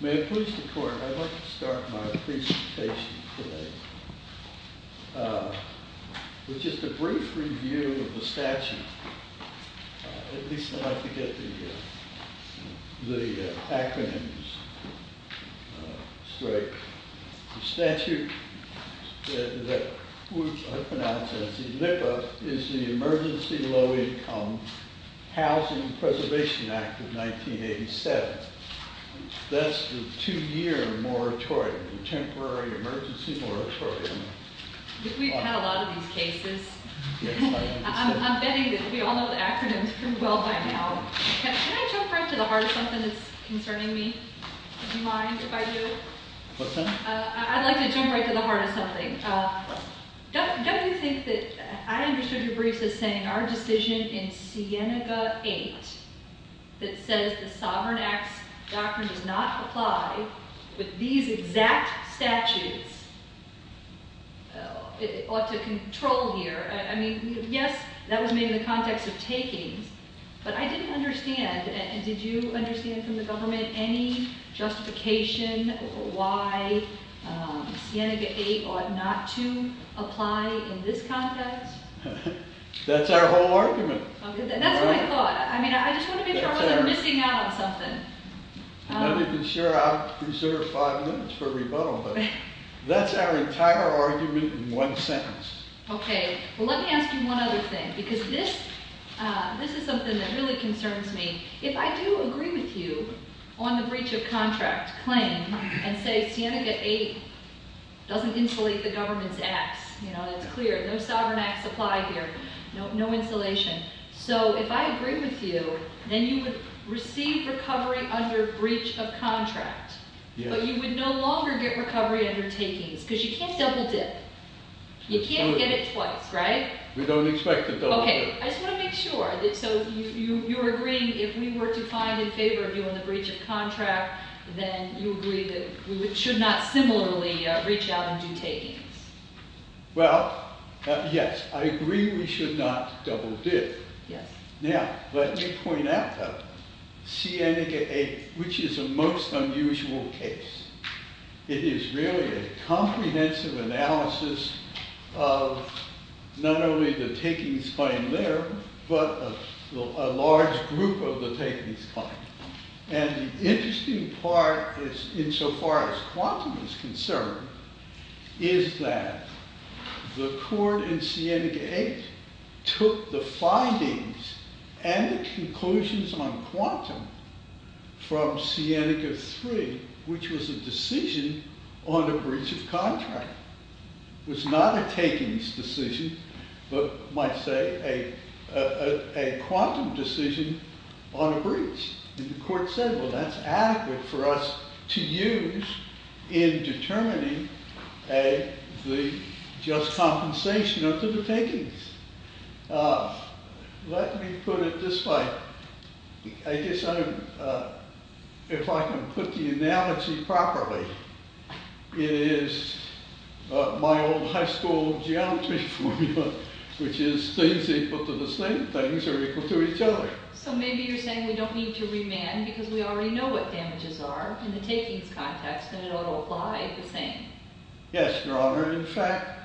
May it please the Court, I'd like to start my presentation today with just a brief review of the statute. At least I'd like to get the acronyms straight. The statute that I pronounce as ELIPA is the Emergency Low Income Housing Preservation Act of 1987. That's the two year moratorium, the temporary emergency moratorium. We've had a lot of these cases. I'm betting that we all know the acronyms well by now. Can I jump right to the heart of something that's concerning me? Would you mind if I do? What's that? I'd like to jump right to the heart of something. Don't you think that I understood your briefs as saying our decision in Sienega 8 that says the Sovereign Acts Doctrine does not apply with these exact statutes ought to control here. I mean, yes, that was made in the context of takings, but I didn't understand from the government any justification why Sienega 8 ought not to apply in this context. That's our whole argument. That's what I thought. I mean, I just want to make sure I wasn't missing out on something. I'm not even sure I preserved five minutes for rebuttal, but that's our entire argument in one sentence. Okay, well let me ask you one other thing because this is something that really concerns me. If I do agree with you on the breach of contract claim and say Sienega 8 doesn't insulate the government's acts, that's clear, no sovereign acts apply here, no insulation. So if I agree with you, then you would receive recovery under breach of contract, but you would no longer get recovery under takings because you can't double dip. You can't get it twice, right? We don't expect to double dip. Okay, I just want to make sure. So you're agreeing if we were to find in favor of you on the breach of contract, then you agree that we should not similarly reach out and do takings. Well, yes, I agree we should not double dip. Now, let me point out, though, Sienega 8, which is a most unusual case. It is really a comprehensive analysis of not only the takings claim there, but a large group of the takings claim. And the interesting part is, insofar as quantum is concerned, is that the court in Sienega 8 took the findings and the conclusions on quantum from Sienega 3, which was a decision on a breach of contract. It was not a takings decision, but you might say a quantum decision on a breach. And the court said, well, that's adequate for us to use in determining the just compensation under the takings. Let me put it this way. I guess if I can put the analogy properly, it is my old high school geometry formula, which is things equal to the same things are equal to each other. So maybe you're saying we don't need to remand because we already know what damages are in the takings context and it ought to apply the same. Yes, Your Honor. In fact,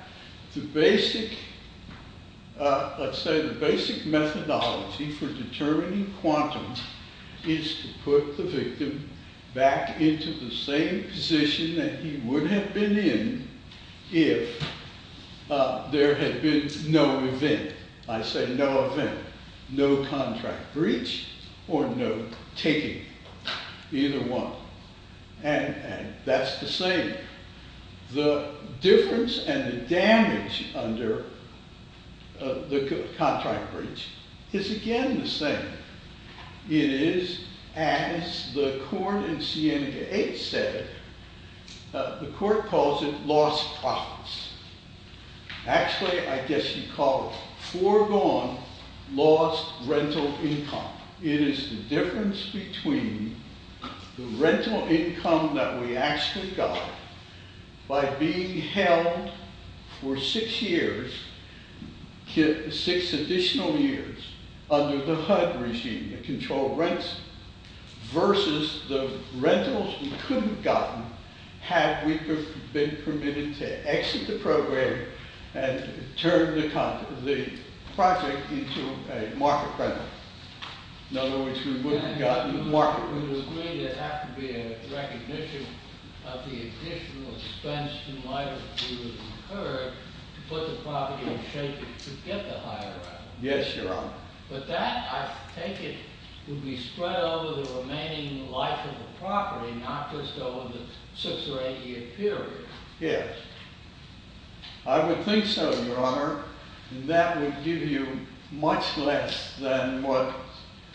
the basic, let's say the basic methodology for determining quantum is to put the victim back into the same position that he would have been in if there had been no event. I say no event, no contract breach or no taking, either one. And that's the same. The difference and the damage under the contract breach is again the same. It is, as the court in Sienega 8 said, the court calls it lost profits. Actually, I guess you call it foregone lost rental income. It is the difference between the rental income that we actually got by being held for six years, six additional years, under the HUD regime, the controlled rents, versus the rentals we couldn't have gotten had we been permitted to exit the program and turn the project into a market rental. In other words, we wouldn't have gotten market rentals. We would agree there would have to be a recognition of the additional expense in light of what occurred to put the property in shape to get the higher up. Yes, Your Honor. But that, I take it, would be spread over the remaining life of the property. Yes. I would think so, Your Honor. That would give you much less than what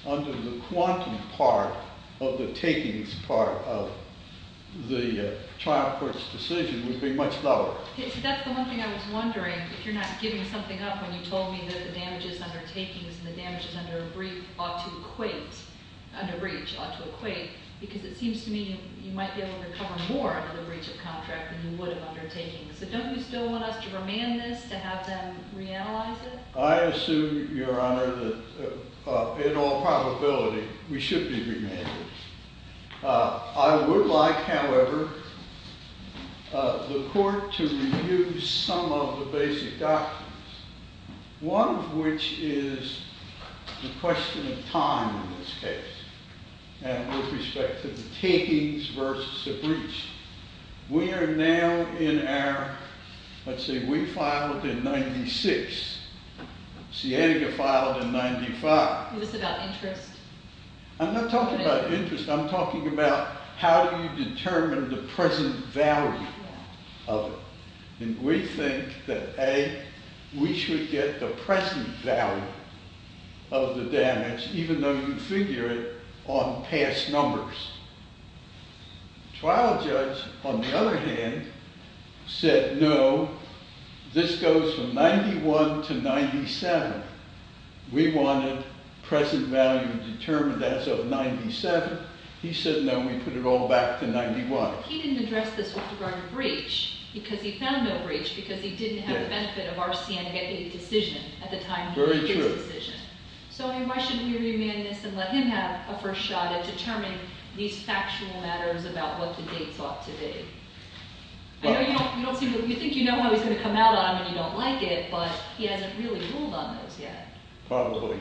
under the quantum part of the takings part of the trial court's decision would be much lower. That's the one thing I was wondering, if you're not giving something up when you told me that the damages under takings and the damages under a breach ought to equate, because it So don't you still want us to remand this, to have them reanalyze it? I assume, Your Honor, that in all probability, we should be remanded. I would like, however, the court to review some of the basic documents, one of which is the question of time in this We are now in our, let's see, we filed in 96. Sienega filed in 95. Is this about interest? I'm not talking about interest. I'm talking about how do you determine the present value of it. And we think that, A, we should get the present value of the damage, even though on past numbers. The trial judge, on the other hand, said, no, this goes from 91 to 97. We wanted present value determined as of 97. He said, no, we put it all back to 91. He didn't address this with regard to breach, because he found no breach, because he didn't have the benefit of our Sienega decision at the time. Very true. So why shouldn't we remand this and let him have a first shot at determining these factual matters about what the date ought to be? I know you think you know how he's going to come out on them and you don't like it, but he hasn't really ruled on those yet. Probably.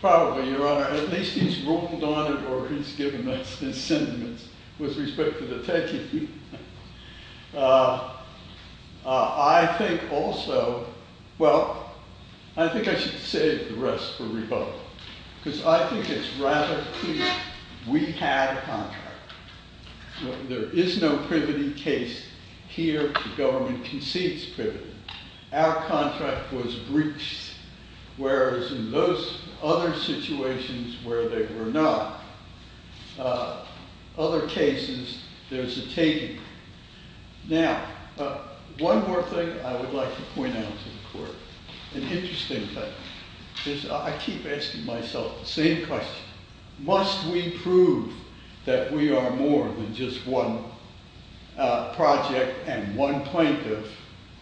Probably, Your Honor. At least he's ruled on it, or he's given his sentiments with respect to the taking. I think also, well, I think I should save the rest for rebuttal, because I think it's rather clear we had a contract. There is no privity case here. The government concedes privity. Our contract was breached, whereas in those other situations where they were not. Other cases, there's a taking. Now, one more thing I would like to point out to the court, an interesting thing. I keep asking myself the same question. Must we prove that we are more than just one project and one plaintiff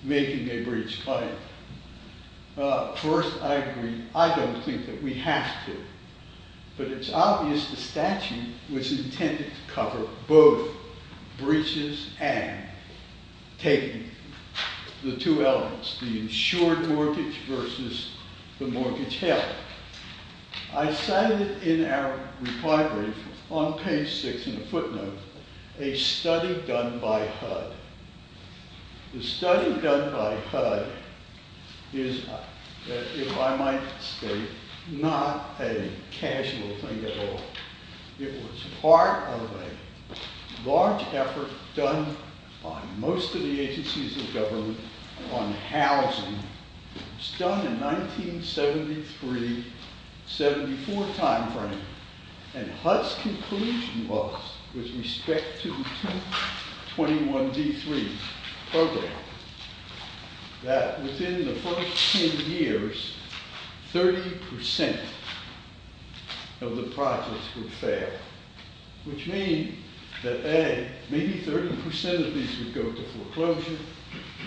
making a breach claim? First, I agree, I don't think that we have to, but it's obvious the statute was intended to cover both breaches and taking, the two elements, the insured mortgage versus the mortgage held. I cited in our reply brief on page 6 in the footnote a study done by HUD. The study done by HUD is, if I might state, not a casual thing at all. It was part of a large effort done by most of the agencies of government on housing. It was done in 1973-74 timeframe, and HUD's conclusion was, with respect to the 2021 D3 program, that within the first 10 years, 30% of the projects would go through foreclosure.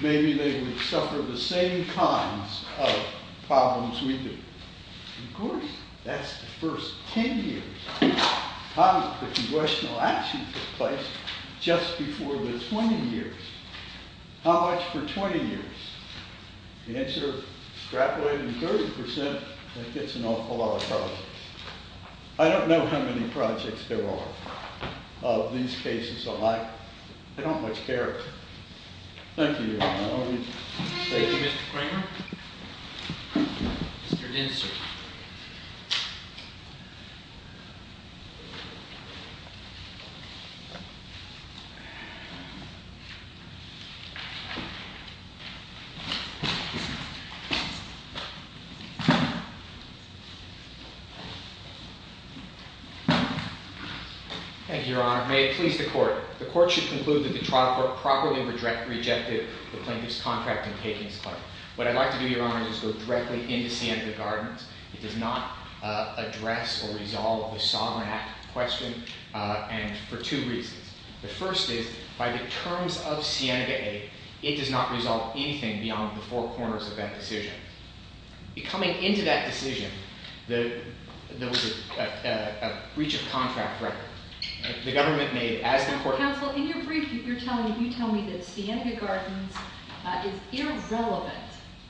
Maybe they would suffer the same kinds of problems we do. Of course, that's the first 10 years. How did the congressional actions take place just before the 20 years? How much for 20 years? The answer, extrapolated to 30%, I think it's an awful lot of problems. I don't know how many projects there are of these cases alike. I don't much care. Thank you, Your Honor. Thank you, Mr. Kramer. Mr. Dinser. Thank you, Your Honor. May it please the Court. The Court should conclude that the trial court properly rejected the plaintiff's contract in taking this claim. What I'd like to do, Your Honor, is go directly into Cienega Gardens. It does not address or resolve the Solomon Act question, and for two reasons. The first is, by the terms of Cienega A, it does not resolve anything beyond the four corners of that decision. Coming into that decision, there was a breach of contract record. The government made, as the Court— Counsel, in your brief, you're telling me that Cienega Gardens is irrelevant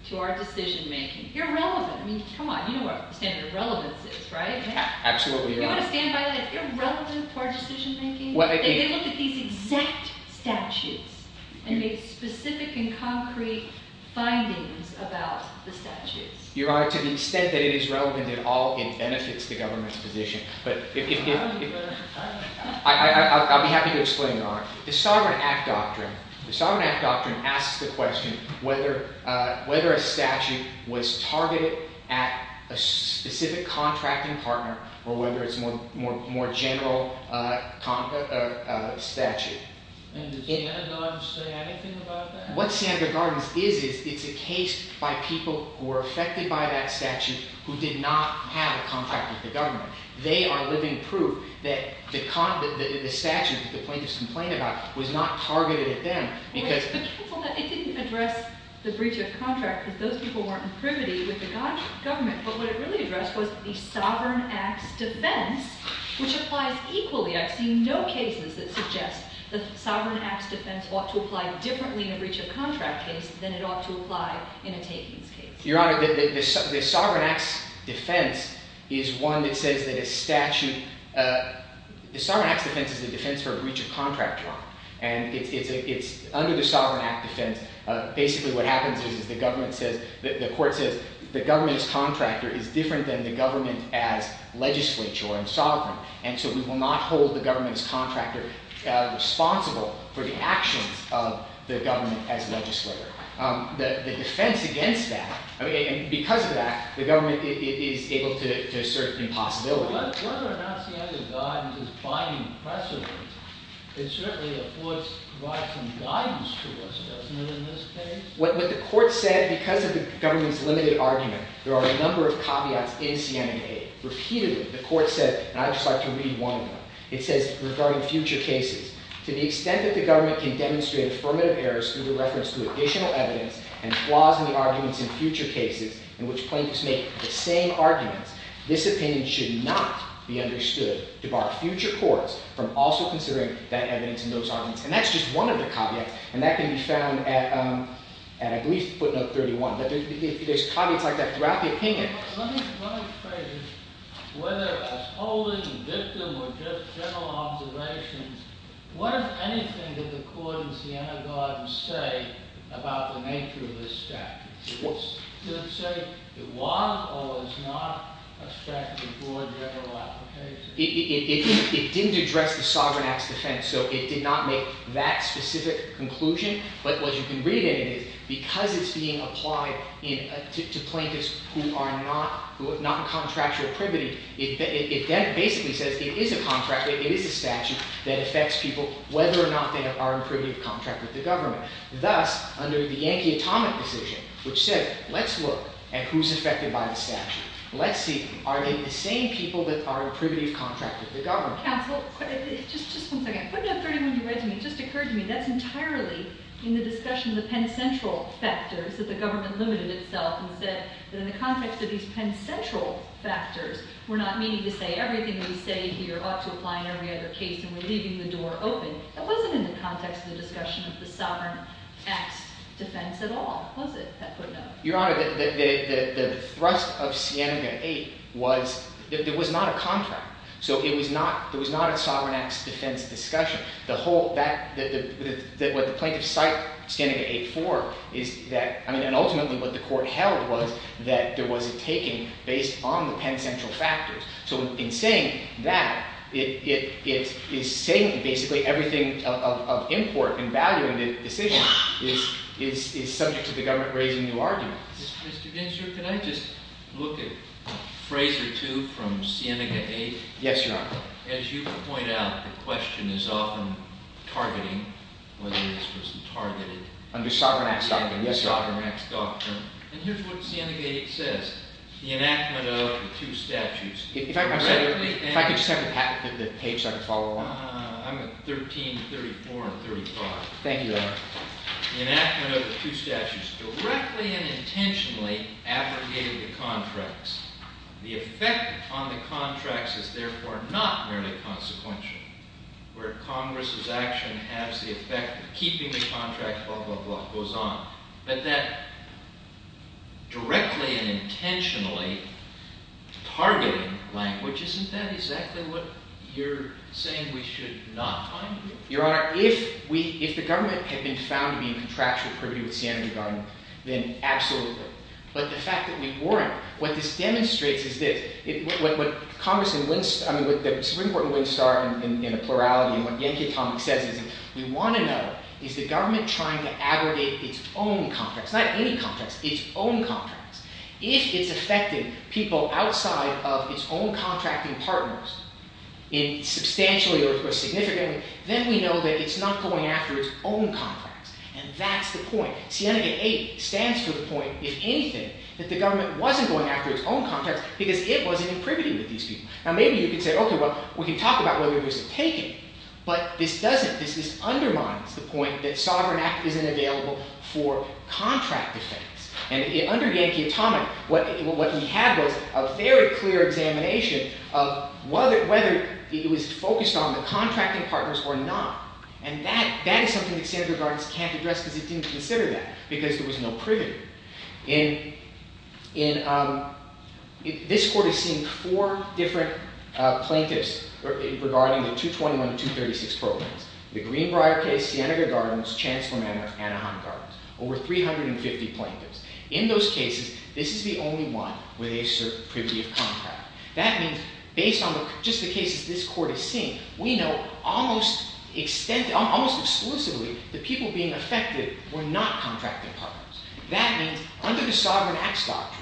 to our decision-making. Irrelevant! I mean, come on, you know what the standard of relevance is, right? Absolutely, Your Honor. You want to stand by that? Irrelevant to our decision-making? They look at these exact statutes and make specific and concrete findings about the statutes. Your Honor, to the extent that it is relevant at all, it benefits the government's position. I'll be happy to explain, Your Honor. The Sovereign Act Doctrine asks the question whether a statute was targeted at a specific contracting partner or whether it's a more general statute. And does Cienega Gardens say anything about that? What Cienega Gardens is, is it's a case by people who were affected by that statute who did not have a contract with the government. They are living proof that the statute that the plaintiffs complained about was not targeted at them because— Counsel, it didn't address the breach of contract because those people weren't in privity with the government, but what it really addressed was the Sovereign Act's defense, which applies equally. I've seen no cases that suggest the Sovereign Act's defense ought to apply differently in a breach of contract case than it ought to apply in a takings case. Your Honor, the Sovereign Act's defense is one that says that a statute—the Sovereign Act's defense is the defense for a breach of contract harm. And under the Sovereign Act defense, basically what happens is the government says—the court says the government's contractor is different than the government as legislature and sovereign. And so we will not hold the government's contractor responsible for the actions of the government as legislator. The defense against that—and because of that, the government is able to assert impossibility. Whether or not CNA's guidance is binding precedent, it certainly affords—provides some guidance to us, doesn't it, in this case? What the court said—because of the government's limited argument, there are a number of caveats in CNA. Repeatedly, the court said—and I'd just like to read one of them. It says, regarding future cases, to the extent that the government can demonstrate affirmative errors through reference to additional evidence and flaws in the arguments in future cases in which plaintiffs make the same arguments, this opinion should not be understood to bar future courts from also considering that evidence in those arguments. And that's just one of the caveats, and that can be found at, I believe, footnote 31. There's caveats like that throughout the opinion. Let me—one of the phrases, whether as holding, victim, or just general observations, what of anything that the court in Siena-Garden say about the nature of this statute? Did it say it was or was not a statute for a general application? It didn't address the Sovereign Act's defense, so it did not make that specific conclusion. But what you can read in it is, because it's being applied to plaintiffs who are not in contractual privity, it basically says it is a contract, it is a statute, that affects people whether or not they are in privity of contract with the government. Thus, under the Yankee Atomic decision, which said, let's look at who's affected by the statute. Let's see, are they the same people that are in privity of contract with the government? Counsel, just one second. Footnote 31 you read to me, it just occurred to me, that's entirely in the discussion of the Penn Central factors that the government limited itself and said that in the context of these Penn Central factors, we're not meaning to say that they were open. It wasn't in the context of the discussion of the Sovereign Act's defense at all, was it, that footnote? Your Honor, the thrust of Scandina 8 was, it was not a contract, so it was not a Sovereign Act's defense discussion. The whole, what the plaintiffs cite Scandina 8 for is that, I mean, and ultimately what the court held was that there was a taking based on the Penn Central factors. So in saying that, it is saying basically everything of import and value in the decision is subject to the government raising new arguments. Mr. Gensler, can I just look at a phrase or two from Scandina 8? Yes, Your Honor. As you point out, the question is often targeting, whether this person targeted... And here's what Scandina 8 says, the enactment of the two statutes... If I could just have the page so I can follow along. I'm at 13, 34, and 35. Thank you, Your Honor. The enactment of the two statutes directly and intentionally abrogated the contracts. The effect on the contracts is therefore not merely consequential, where Congress's action has the effect of keeping the contract, blah, blah, blah, goes on, but that directly and intentionally targeting language, isn't that exactly what you're saying we should not find here? Your Honor, if the government had been found to be in contractual privy with Scandina, then absolutely. But the fact that we weren't, what this demonstrates is this. The Supreme Court in Winstar, in a plurality, and what Yankee Atomic says is, we want to know, is the government trying to abrogate its own contracts? Not any contracts, its own contracts. If it's affecting people outside of its own contracting partners, substantially or significantly, then we know that it's not going after its own contracts. And that's the point. Scandina 8 stands for the point, if anything, that the government wasn't going after its own contracts, because it wasn't in privy with these people. Now maybe you could say, okay, well, we can talk about whether there was a taking, but this doesn't, this undermines the point that sovereign act isn't available for contract defense. And under Yankee Atomic, what we have was a very clear examination of whether it was focused on the contracting partners or not. And that is something that Senator Gardner can't address because he didn't consider that, because there was no privy. In, in, um, this court has seen four different plaintiffs regarding the 221 and 236 programs. The Greenbrier case, Senator Gardner's, Chancellor Anaheim Gardner's. Over 350 plaintiffs. In those cases, this is the only one where they assert privy of contract. That means, based on just the cases this court has seen, we know almost extensively, almost That means, under the Sovereign Acts Doctrine,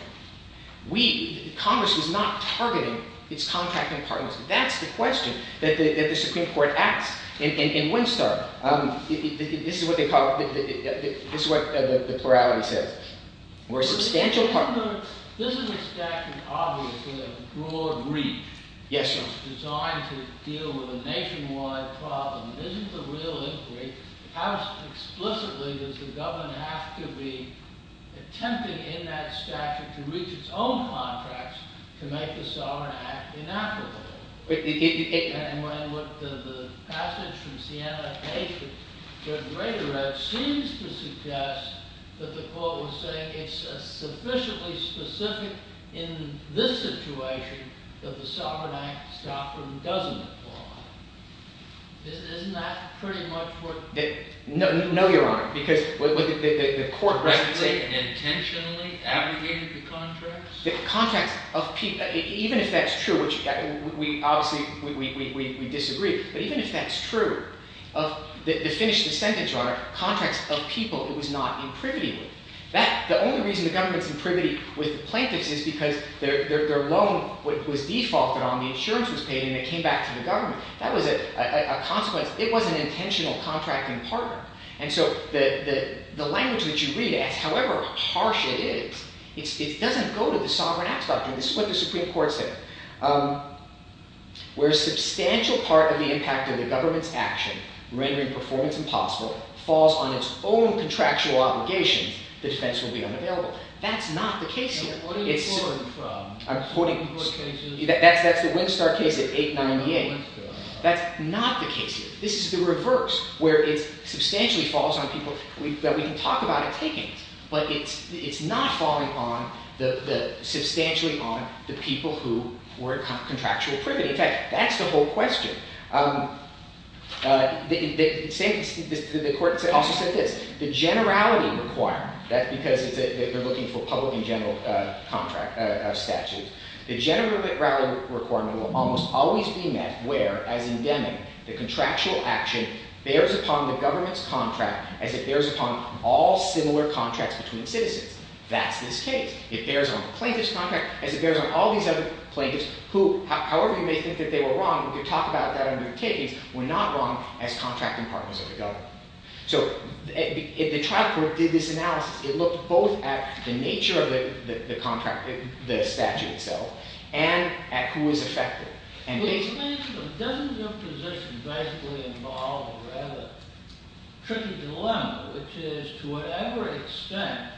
we, Congress, was not targeting its contracting partners. That's the question that the, that the Supreme Court asks. In, in, in Winstar, um, this is what they call, this is what the plurality says. We're a substantial partner. Yes, sir. Attempting in that statute to reach its own contracts to make the Sovereign Act inappropriate. But it, it, it. And when the, the passage from Siena-Haitian, Judge Raderow, seems to suggest that the court was saying it's sufficiently specific in this situation that the Sovereign Act Doctrine doesn't apply. Isn't, isn't that pretty much what. No, no, your Honor. Because what the, the, the court was saying. Correctly, intentionally abrogated the contracts? The contracts of people, even if that's true, which we obviously, we, we, we, we disagree. But even if that's true, of the, to finish the sentence, your Honor, contracts of people it was not in privity with. That, the only reason the government's in privity with the plaintiffs is because their, their, their loan was defaulted on, the insurance was paid, and it came back to the government. That was a, a, a consequence. It was, it was an intentional contracting partner. And so, the, the, the language that you read as, however harsh it is, it's, it doesn't go to the Sovereign Act Doctrine. This is what the Supreme Court said. Where substantial part of the impact of the government's action, rendering performance impossible, falls on its own contractual obligations, the defense will be unavailable. That's not the case here. What are you quoting from? I'm quoting. What cases? That's, that's the Winstar case at 898. That's not the case here. This is the reverse, where it's, substantially falls on people, we, that we can talk about it, take it, but it's, it's not falling on the, the, substantially on the people who were in contractual privity. In fact, that's the whole question. The, the same, the, the court also said this. The generality requirement, that's because it's a, they're looking for public and general contract, statute. The generality requirement will almost always be met where, as in Deming, the contractual action bears upon the government's contract as it bears upon all similar contracts between citizens. That's this case. It bears on the plaintiff's contract as it bears on all these other plaintiffs who, however you may think that they were wrong, we could talk about that under takings, were not wrong as contracting partners of the government. So, if the trial court did this analysis, it looked both at the nature of the, the, the statute itself and at who was affected. And basically... Doesn't your position basically involve a rather tricky dilemma, which is to whatever extent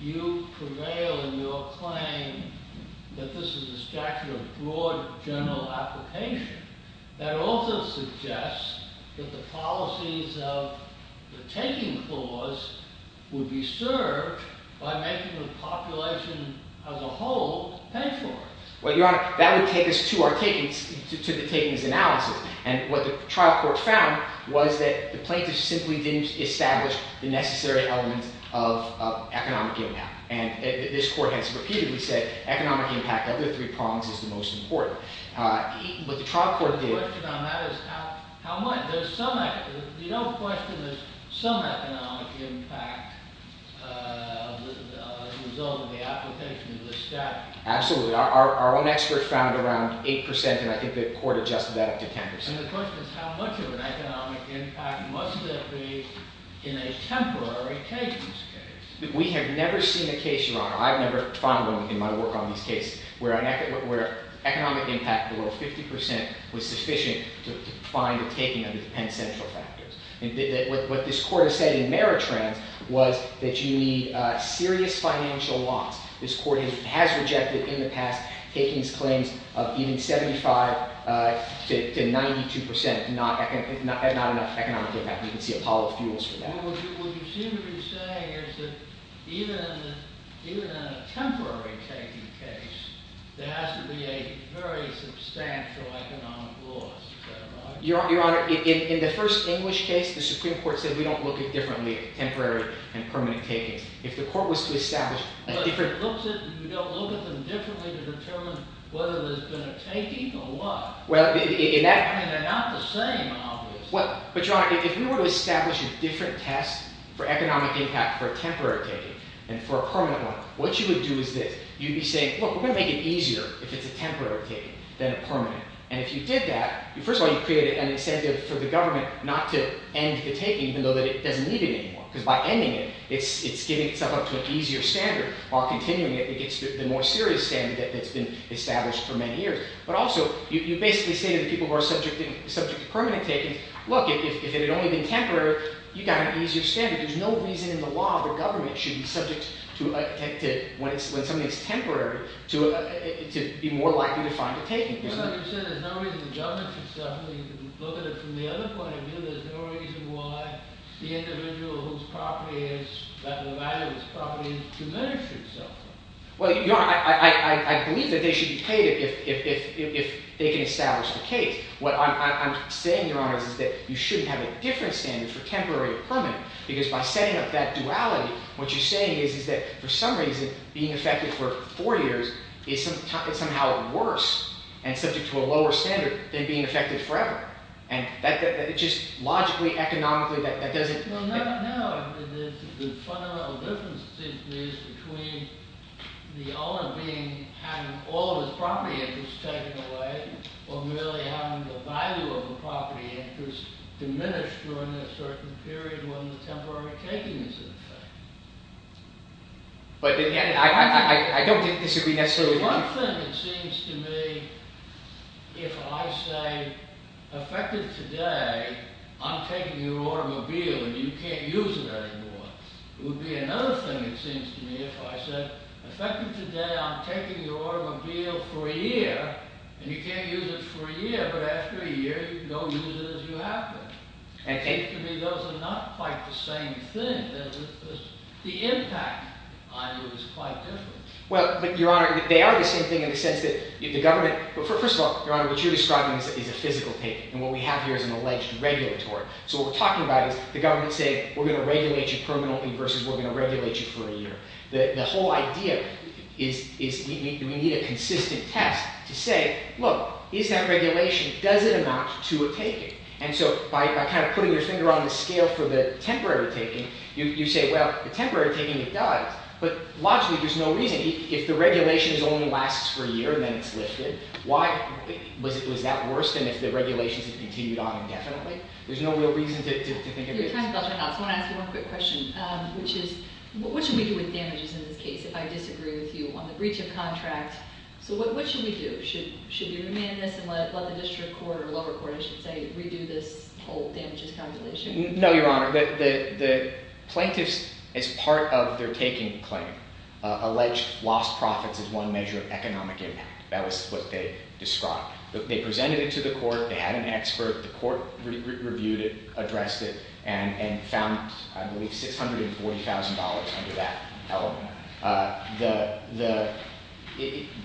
you prevail in your claim that this is a statute of broad general application that also suggests that the policies of the taking clause would be served by making the population as a whole pay for it? Well, Your Honor, that would take us to our takings, to the takings analysis. And what the trial court found was that the plaintiff simply didn't establish the necessary elements of economic impact. And this court has repeatedly said economic impact under the three prongs is the most important. What the trial court did... The question on that is how, how much? You don't question there's some economic impact as a result of the application of the statute? Absolutely. Our own expert found around 8% and I think the court adjusted that up to 10%. And the question is how much of an economic impact must there be in a temporary takings We have never seen a case, Your Honor, I've never found one in my work on these cases where economic impact below 50% was sufficient to find a taking under the Penn Central factors. What this court has said in Meritrans was that you need serious financial loss. This court has rejected in the past takings claims of even 75% to 92% not enough economic impact. You can see Apollo Fuels for that. What you seem to be saying is that even in a temporary taking case, there has to be a very substantial economic loss. Is that right? Your Honor, in the first English case, the Supreme Court said we don't look at differently temporary and permanent takings. If the court was to establish a different... But you don't look at them differently to determine whether there's been a taking or what? Well, in that... I mean, they're not the same, obviously. But, Your Honor, if we were to establish a different test for economic impact for a temporary taking and for a permanent one, what you would do is this. You'd be saying, look, we're going to make it easier if it's a temporary taking than a permanent. And if you did that, first of all, you created an incentive for the government not to end the taking even though it doesn't need it anymore. Because by ending it, it's getting itself up to an easier standard. While continuing it, it gets to the more serious standard that's been established for many years. But also, you basically say to the people who are subject to permanent takings, look, if it had only been temporary, you got an easier standard. There's no reason in the law that the government should be subject to... When something is temporary, to be more likely to find a taking. Well, Your Honor, you said there's no reason the government should suffer. You can look at it from the other point of view. There's no reason why the individual whose property is... The value of his property is diminished or so. Well, Your Honor, I believe that they should be paid if they can establish the case. What I'm saying, Your Honor, is that you shouldn't have a different standard for temporary or permanent. Because by setting up that duality, what you're saying is that for some reason, being affected for four years is somehow worse and subject to a lower standard than being affected forever. And just logically, economically, that doesn't... Well, no. The fundamental difference seems to be between the owner having all of his property interest taken away or merely having the value of the property interest diminished during a certain period when the temporary taking is in effect. But again, I don't think this would be necessarily... It would be one thing, it seems to me, if I say, affected today, I'm taking your automobile and you can't use it anymore. It would be another thing, it seems to me, if I said, affected today, I'm taking your automobile for a year and you can't use it for a year. But after a year, you can go use it as you have been. It seems to me those are not quite the same thing. The impact on you is quite different. Well, but Your Honor, they are the same thing in the sense that the government... But first of all, Your Honor, what you're describing is a physical taking and what we have here is an alleged regulatory. So what we're talking about is the government saying, we're going to regulate you permanently versus we're going to regulate you for a year. The whole idea is we need a consistent test to say, look, is that regulation, does it amount to a taking? And so by kind of putting your finger on the scale for the temporary taking, you say, well, the temporary taking, it does. But logically, there's no reason. If the regulation only lasts for a year, then it's lifted. Why? Was that worse than if the regulations had continued on indefinitely? There's no real reason to think of it. Your time's up, Your Honor. So I want to ask you one quick question, which is, what should we do with damages in this case if I disagree with you on the breach of contract? So what should we do? Should we remand this and let the district court or lower court, I should say, redo this whole damages calculation? No, Your Honor. The plaintiffs, as part of their taking claim, alleged lost profits as one measure of economic impact. That was what they described. They presented it to the court. They had an expert. The court reviewed it, addressed it, and found, I believe, $640,000 under that element.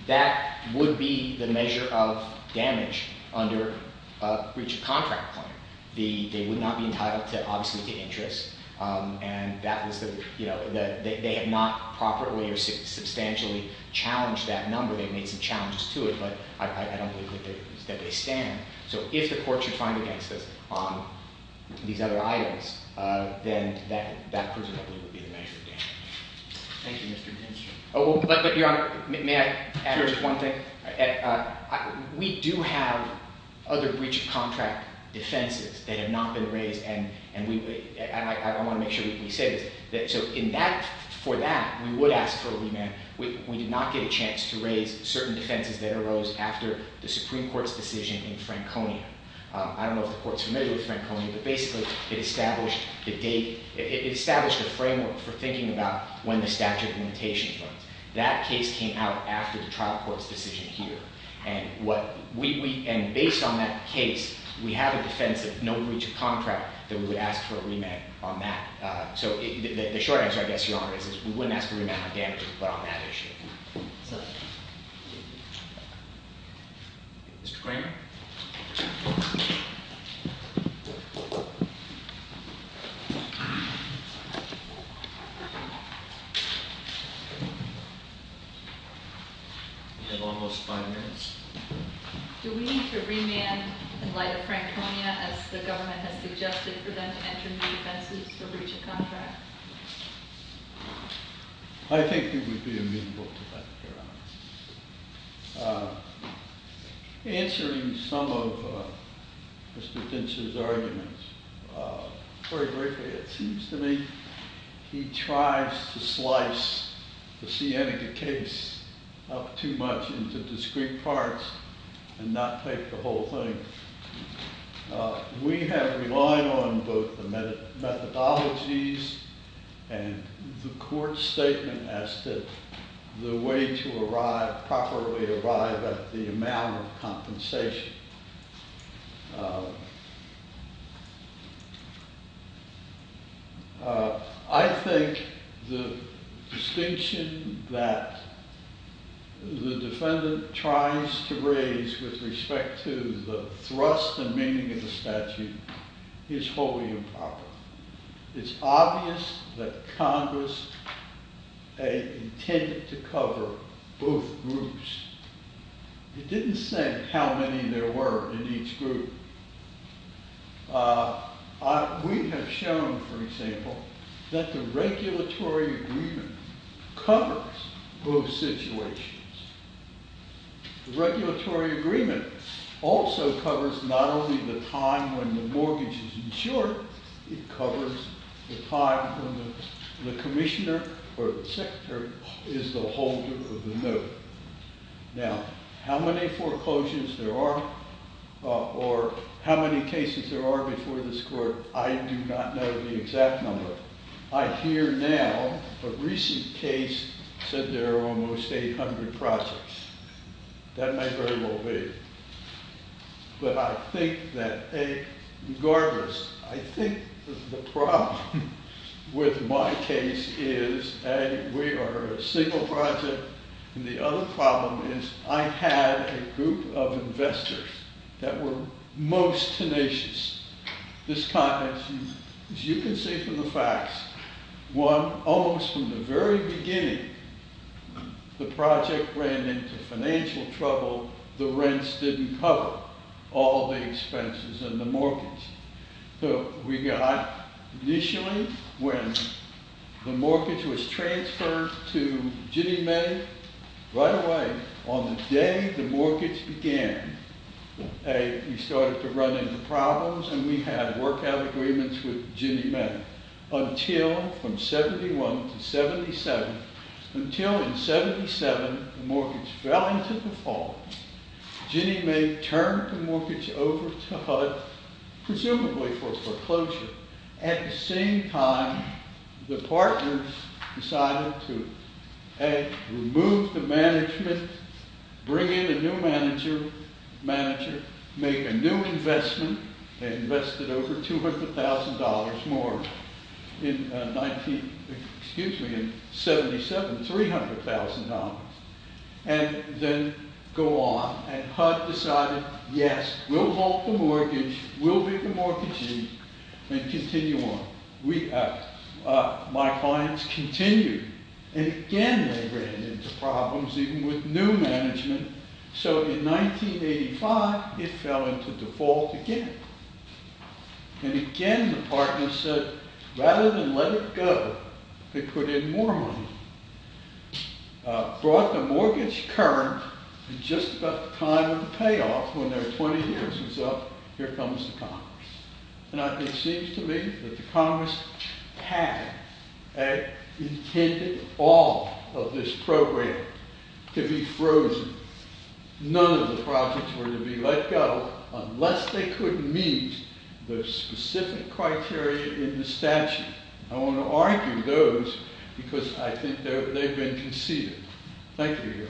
That would be the measure of damage under a breach of contract claim. They would not be entitled, obviously, to interest. They have not properly or substantially challenged that number. They've made some challenges to it, but I don't believe that they stand. So if the court should find against us on these other items, then that presumably would be the measure of damage. Thank you, Mr. Dinshaw. But, Your Honor, may I add just one thing? We do have other breach of contract defenses that have not been raised, and I want to make sure that we say this. So for that, we would ask for a remand. We did not get a chance to raise certain defenses that arose after the Supreme Court's decision in Franconia. I don't know if the Court's familiar with Franconia, but basically, it established a framework for thinking about when the statute of limitations runs. That case came out after the trial court's decision here. And based on that case, we have a defense of no breach of contract that we would ask for a remand on that. So the short answer, I guess, Your Honor, is we wouldn't ask for a remand on damages, but on that issue. Mr. Kramer? We have almost five minutes. Do we need to remand in light of Franconia as the government has suggested for them to enter new defenses for breach of contract? I think you would be immutable to that, Your Honor. Answering some of Mr. Dinshaw's arguments, very briefly, it seems to me he tries to slice the Sienega case up too much into discrete parts and not take the whole thing. We have relied on both the methodologies and the Court's statement as to the way to arrive, properly arrive at the amount of compensation. I think the distinction that the defendant tries to raise with respect to the thrust and meaning of the statute is wholly improper. It's obvious that Congress intended to cover both groups. It didn't say how many there were in each group. We have shown, for example, that the regulatory agreement covers both situations. The regulatory agreement also covers not only the time when the mortgage is insured, it Now, how many foreclosures there are, or how many cases there are before this Court, I do not know the exact number. I hear now, a recent case said there are almost 800 projects. That may very well be. But I think that, regardless, I think the problem with my case is we are a single project and the other problem is I had a group of investors that were most tenacious. As you can see from the facts, one, almost from the very beginning, the project ran into financial trouble. The rents didn't cover all the expenses and the mortgage. We got, initially, when the mortgage was transferred to Ginnie Mae, right away, on the day the mortgage began, we started to run into problems and we had work out agreements with Ginnie Mae. Until, from 71 to 77, until in 77, the mortgage fell into default. Ginnie Mae turned the mortgage over to HUD, presumably for foreclosure. At the same time, the partners decided to remove the management, bring in a new manager, make a new investment, they invested over $200,000 more in 1977, $300,000. And then go on, and HUD decided, yes, we'll halt the mortgage, we'll get the mortgage in, and continue on. My clients continued. And again, they ran into problems, even with new management. So, in 1985, it fell into default again. And again, the partners said, rather than let it go, they put in more money, brought the mortgage current, and just about the time of the payoff, when their 20 years was up, here comes the Congress. And it seems to me that the Congress had intended all of this program to be frozen. None of the projects were to be let go, unless they could meet the specific criteria in the statute. And I want to argue those, because I think they've been conceded. Thank you.